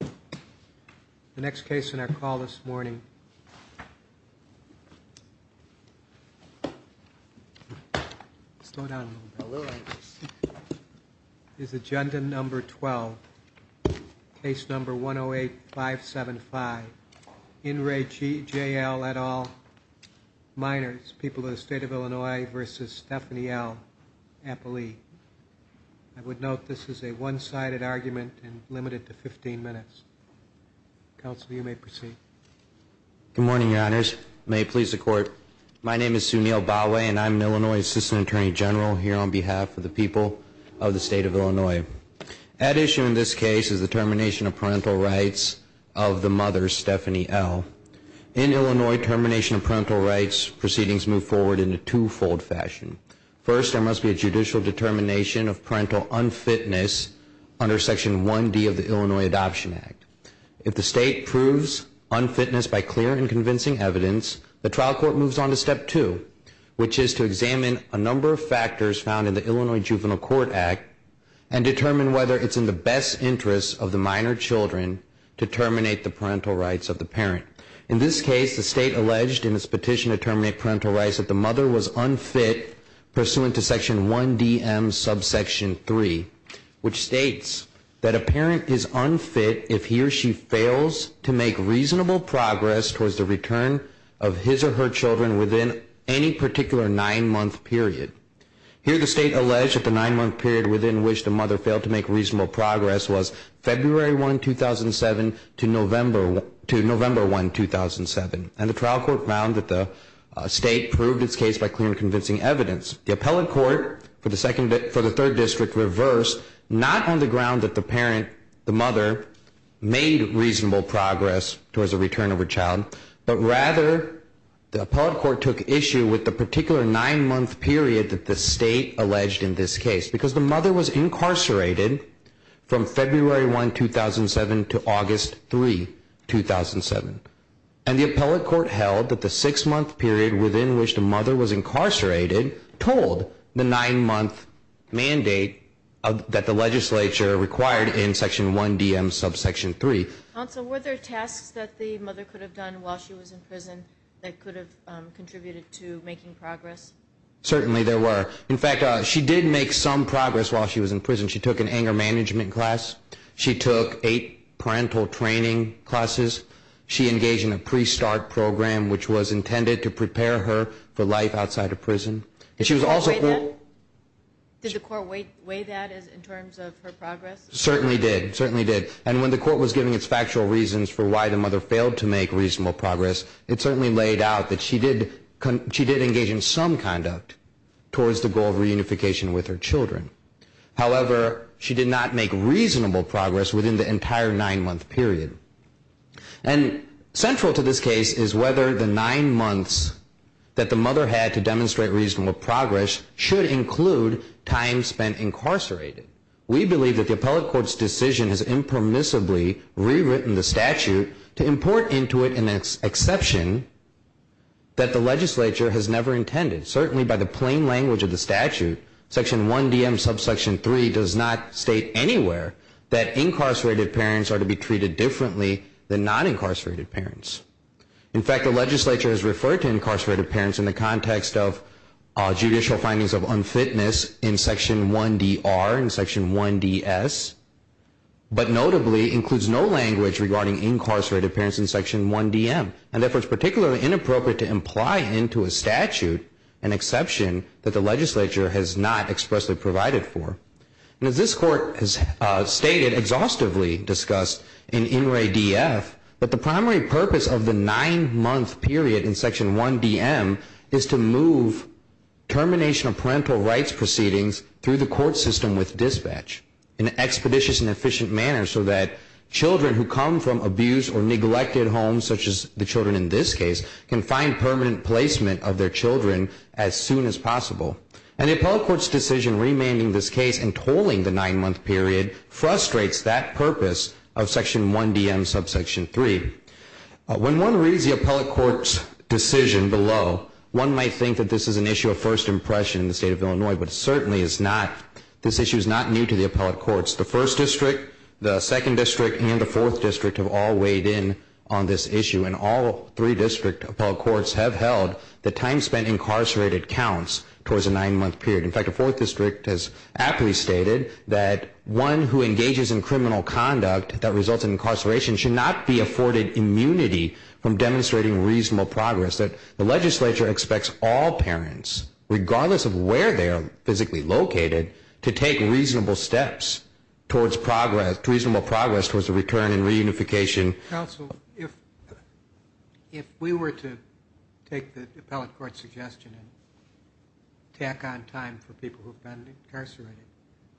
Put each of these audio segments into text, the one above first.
People of the State of Illinois v. Stephanie L. Appley. I would note this is a one-sided argument and limited to 15 minutes. Counsel, you may proceed. Good morning, Your Honors. May it please the Court, my name is Sunil Bhawe and I'm an Illinois Assistant Attorney General here on behalf of the people of the State of Illinois. At issue in this case is the termination of parental rights of the mother, Stephanie L. In Illinois, termination of parental rights proceedings move forward in a two-fold fashion. First, there must be a judicial determination of parental unfitness under Section 1D of the Illinois Adoption Act. If the State proves unfitness by clear and convincing evidence, the trial court moves on to Step 2, which is to examine a number of factors found in the Illinois Juvenile Court Act and determine whether it's in the best interest of the minor children to terminate the parental rights of the parent. In this case, the State alleged in its petition to terminate parental rights that the mother was unfit pursuant to Section 1DM subsection 3, which states that a parent is unfit if he or she fails to make reasonable progress towards the return of his or her children within any particular nine-month period. Here, the State alleged that the nine-month period within which the mother failed to make reasonable progress was February 1, 2007 to November 1, 2007. And the trial court found that the State proved its case by clear and convincing evidence. The appellate court for the Third District reversed, not on the ground that the parent, the mother, made reasonable progress towards the return of her child, but rather the appellate court took issue with the particular nine-month period that the State alleged in this case, because the mother was incarcerated from February 1, 2007 to August 3, 2007. And the appellate court held that the six-month period within which the mother was incarcerated told the nine-month mandate that the legislature required in Section 1DM subsection 3. Counsel, were there tasks that the mother could have done while she was in prison that could have contributed to making progress? Certainly there were. In fact, she did make some progress while she was in prison. She took an anger management class. She took eight parental training classes. She engaged in a pre-start program, which was intended to prepare her for life outside of prison. Did the court weigh that in terms of her progress? Certainly did. And when the court was giving its factual reasons for why the mother failed to make reasonable progress, it certainly laid out that she did engage in some conduct towards the goal of reunification with her children. However, she did not make reasonable progress within the entire nine-month period. And central to this case is whether the nine months that the mother had to demonstrate reasonable progress should include time spent incarcerated. We believe that the appellate court's decision has impermissibly rewritten the statute to import into it an exception that the legislature has never intended. Certainly by the plain language of the statute, Section 1DM subsection 3 does not state anywhere that incarcerated parents are to be treated differently than non-incarcerated parents. In fact, the legislature has referred to incarcerated parents in the context of judicial findings of unfitness in Section 1DR and Section 1DS, but notably includes no language regarding incarcerated parents in Section 1DM. And therefore, it's particularly inappropriate to imply into a statute an exception that the legislature has not expressly provided for. And as this court has stated, exhaustively discussed in In Re DF, that the primary purpose of the nine-month period in Section 1DM is to move termination of parental rights proceedings through the court system with dispatch in an expeditious and efficient manner so that children who come from abused or neglected homes, such as the children in this case, can find permanent placement of their children as soon as possible. And the appellate court's decision remanding this case and tolling the nine-month period frustrates that purpose of Section 1DM subsection 3. When one reads the appellate court's decision below, one might think that this is an issue of first impression in the state of Illinois, but certainly it's not. This issue is not new to the appellate courts. The First District, the Second District, and the Fourth District have all weighed in on this issue, and all three district appellate courts have held the time spent incarcerated counts towards the nine-month period. In fact, the Fourth District has aptly stated that one who engages in criminal conduct that results in incarceration should not be afforded immunity from demonstrating reasonable progress, that the legislature expects all parents, regardless of where they are physically located, to take reasonable steps towards reasonable progress towards a return and reunification. Counsel, if we were to take the appellate court's suggestion and tack on time for people who have been incarcerated,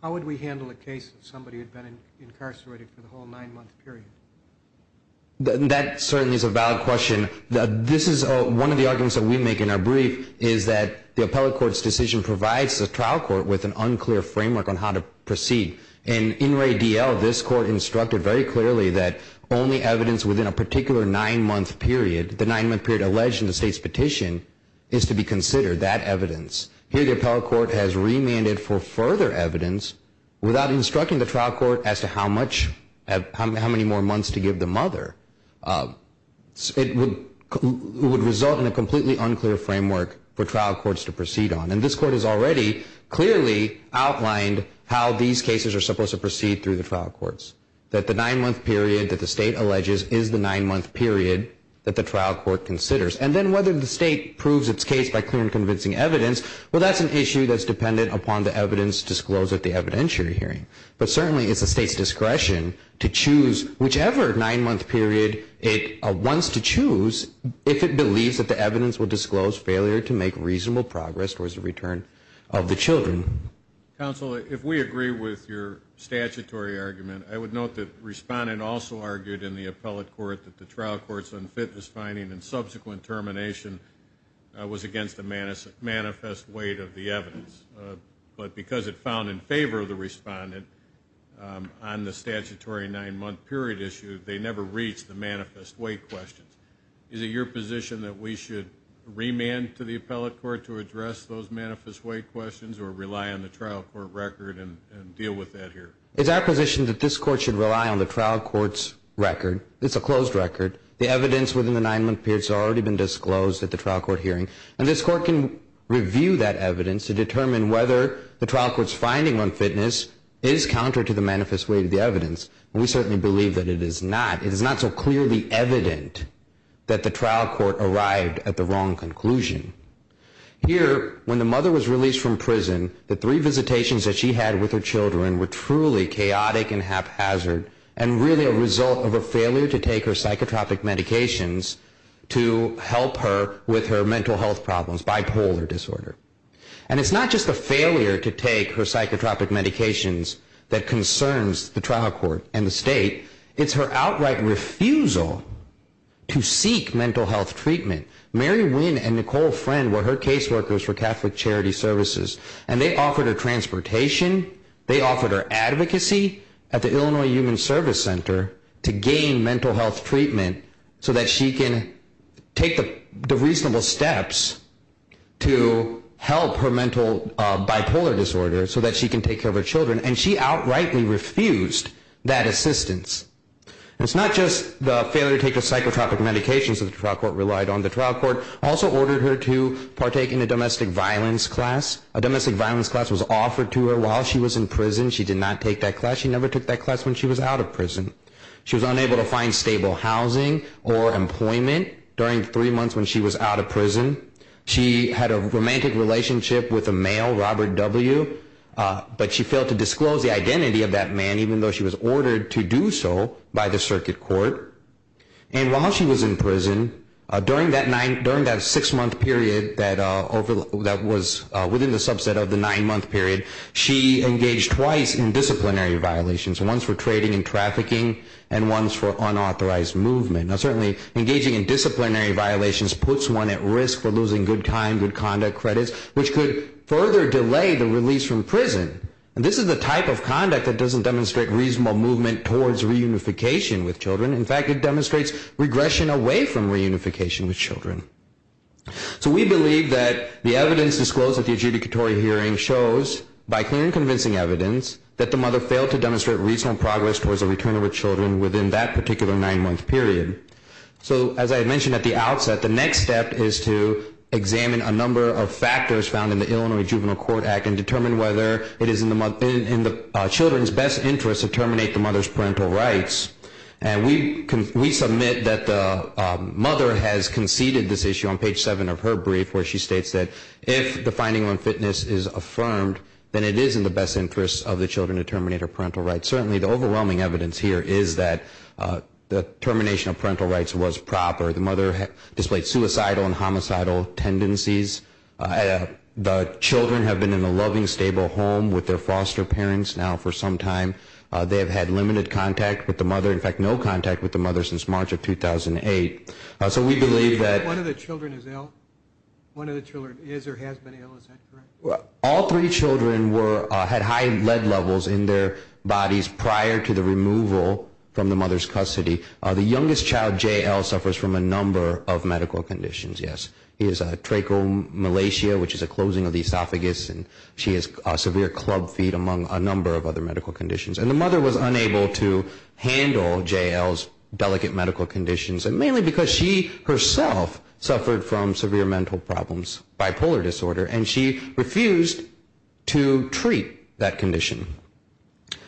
how would we handle a case of somebody who had been incarcerated for the whole nine-month period? That certainly is a valid question. This is one of the arguments that we make in our brief is that the appellate court's decision provides the trial court with an unclear framework on how to proceed. And in Ray D.L., this court instructed very clearly that only evidence within a particular nine-month period, the nine-month period alleged in the state's petition, is to be considered, that evidence. Here, the appellate court has remanded for further evidence without instructing the trial court as to how much, how many more months to give the mother. It would result in a completely unclear framework for trial courts to proceed on. And this court has already clearly outlined how these cases are supposed to proceed through the trial courts, that the nine-month period that the state alleges is the nine-month period that the trial court considers. And then whether the state proves its case by clear and convincing evidence, well, that's an issue that's dependent upon the evidence disclosed at the evidentiary hearing. But certainly, it's the state's discretion to choose whichever nine-month period it wants to choose if it believes that the evidence will disclose failure to make reasonable progress towards the return of the children. Counsel, if we agree with your statutory argument, I would note that the Respondent also argued in the appellate court that the trial court's unfitness finding and subsequent termination was against the manifest weight of the evidence. But because it found in favor of the Respondent on the statutory nine-month period issue, they never reached the manifest weight questions. Is it your position that we should remand to the appellate court to address those manifest weight questions or rely on the trial court record and deal with that here? It's our position that this court should rely on the trial court's record. It's a closed record. The evidence within the nine-month period has already been disclosed at the trial court hearing. And this court can review that evidence to determine whether the trial court's finding unfitness is counter to the manifest weight of the evidence. And we certainly believe that it is not. It is not so clearly evident that the trial court arrived at the wrong conclusion. Here, when the mother was released from prison, the three visitations that she had with her children were truly chaotic and haphazard and really a result of a failure to take her psychotropic medications to help her with her mental health problems, bipolar disorder. And it's not just a failure to take her psychotropic medications that concerns the trial court and the state. It's her outright refusal to seek mental health treatment. Mary Wynn and Nicole Friend were her caseworkers for Catholic Charity Services. And they offered her transportation. They offered her advocacy at the Illinois Human Service Center to gain mental health treatment so that she can take the reasonable steps to help her mental bipolar disorder so that she can take care of her children. And she outrightly refused that assistance. It's not just the failure to take her psychotropic medications that the trial court relied on. The trial court also ordered her to partake in a domestic violence class. A domestic violence class was offered to her while she was in prison. She did not take that class. She never took that class when she was out of prison. She was unable to find stable housing or employment during three months when she was out of prison. She had a romantic relationship with a male, Robert W., but she failed to disclose the identity of that man, even though she was ordered to do so by the circuit court. And while she was in prison, during that six-month period that was within the subset of the nine-month period, she engaged twice in disciplinary violations, once for trading and trafficking and once for unauthorized movement. Now, certainly engaging in disciplinary violations puts one at risk for losing good time, good conduct credits, which could further delay the release from prison. And this is the type of conduct that doesn't demonstrate reasonable movement towards reunification with children. In fact, it demonstrates regression away from reunification with children. So we believe that the evidence disclosed at the adjudicatory hearing shows, by clear and convincing evidence, that the mother failed to demonstrate reasonable progress towards a return with children within that particular nine-month period. So, as I had mentioned at the outset, the next step is to examine a number of factors found in the Illinois Juvenile Court Act and determine whether it is in the children's best interest to terminate the mother's parental rights. And we submit that the mother has conceded this issue on page seven of her brief, where she states that if the finding on fitness is affirmed, then it is in the best interest of the children to terminate her parental rights. Certainly the overwhelming evidence here is that the termination of parental rights was proper. The mother displayed suicidal and homicidal tendencies. The children have been in a loving, stable home with their foster parents now for some time. They have had limited contact with the mother, in fact, no contact with the mother since March of 2008. So we believe that... One of the children is ill? One of the children is or has been ill, is that correct? All three children were, had high lead levels in their bodies prior to the removal from the mother's custody. The youngest child, J.L., suffers from a number of medical conditions. Yes, he has trachomalacia, which is a closing of the esophagus, and she has severe club feet, among a number of other medical conditions. And the mother was unable to handle J.L.'s delicate medical conditions, mainly because she herself suffered from severe mental problems, bipolar disorder, and she refused to treat that condition.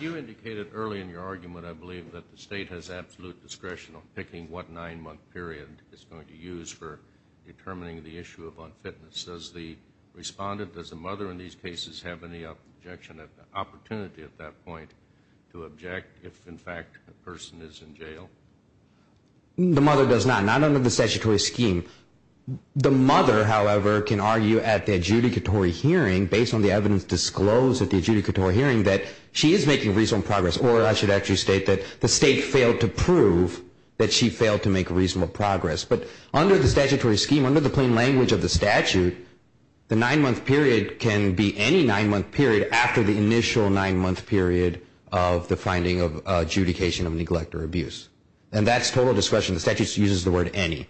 You indicated early in your argument, I believe, that the state has absolute discretion on picking what nine-month period it's going to use for determining the issue of unfitness. Does the respondent, does the mother in these cases, have any objection, opportunity at that point to object if, in fact, the person is in jail? The mother does not, not under the statutory scheme. The mother, however, can argue at the adjudicatory hearing, based on the evidence disclosed at the adjudicatory hearing, that she is making reasonable progress. Or I should actually state that the state failed to prove that she failed to make reasonable progress. But under the statutory scheme, under the plain language of the statute, the nine-month period can be any nine-month period after the initial nine-month period of the finding of adjudication of neglect or abuse. And that's total discretion. The statute uses the word any.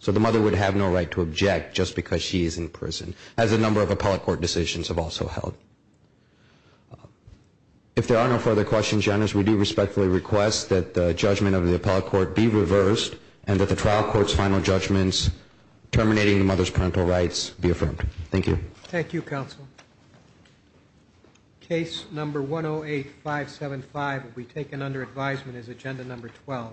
So the mother would have no right to object, as a number of appellate court decisions have also held. If there are no further questions, Your Honors, we do respectfully request that the judgment of the appellate court be reversed and that the trial court's final judgments terminating the mother's parental rights be affirmed. Thank you. Thank you, counsel. Case number 108-575 will be taken under advisement as agenda number 12.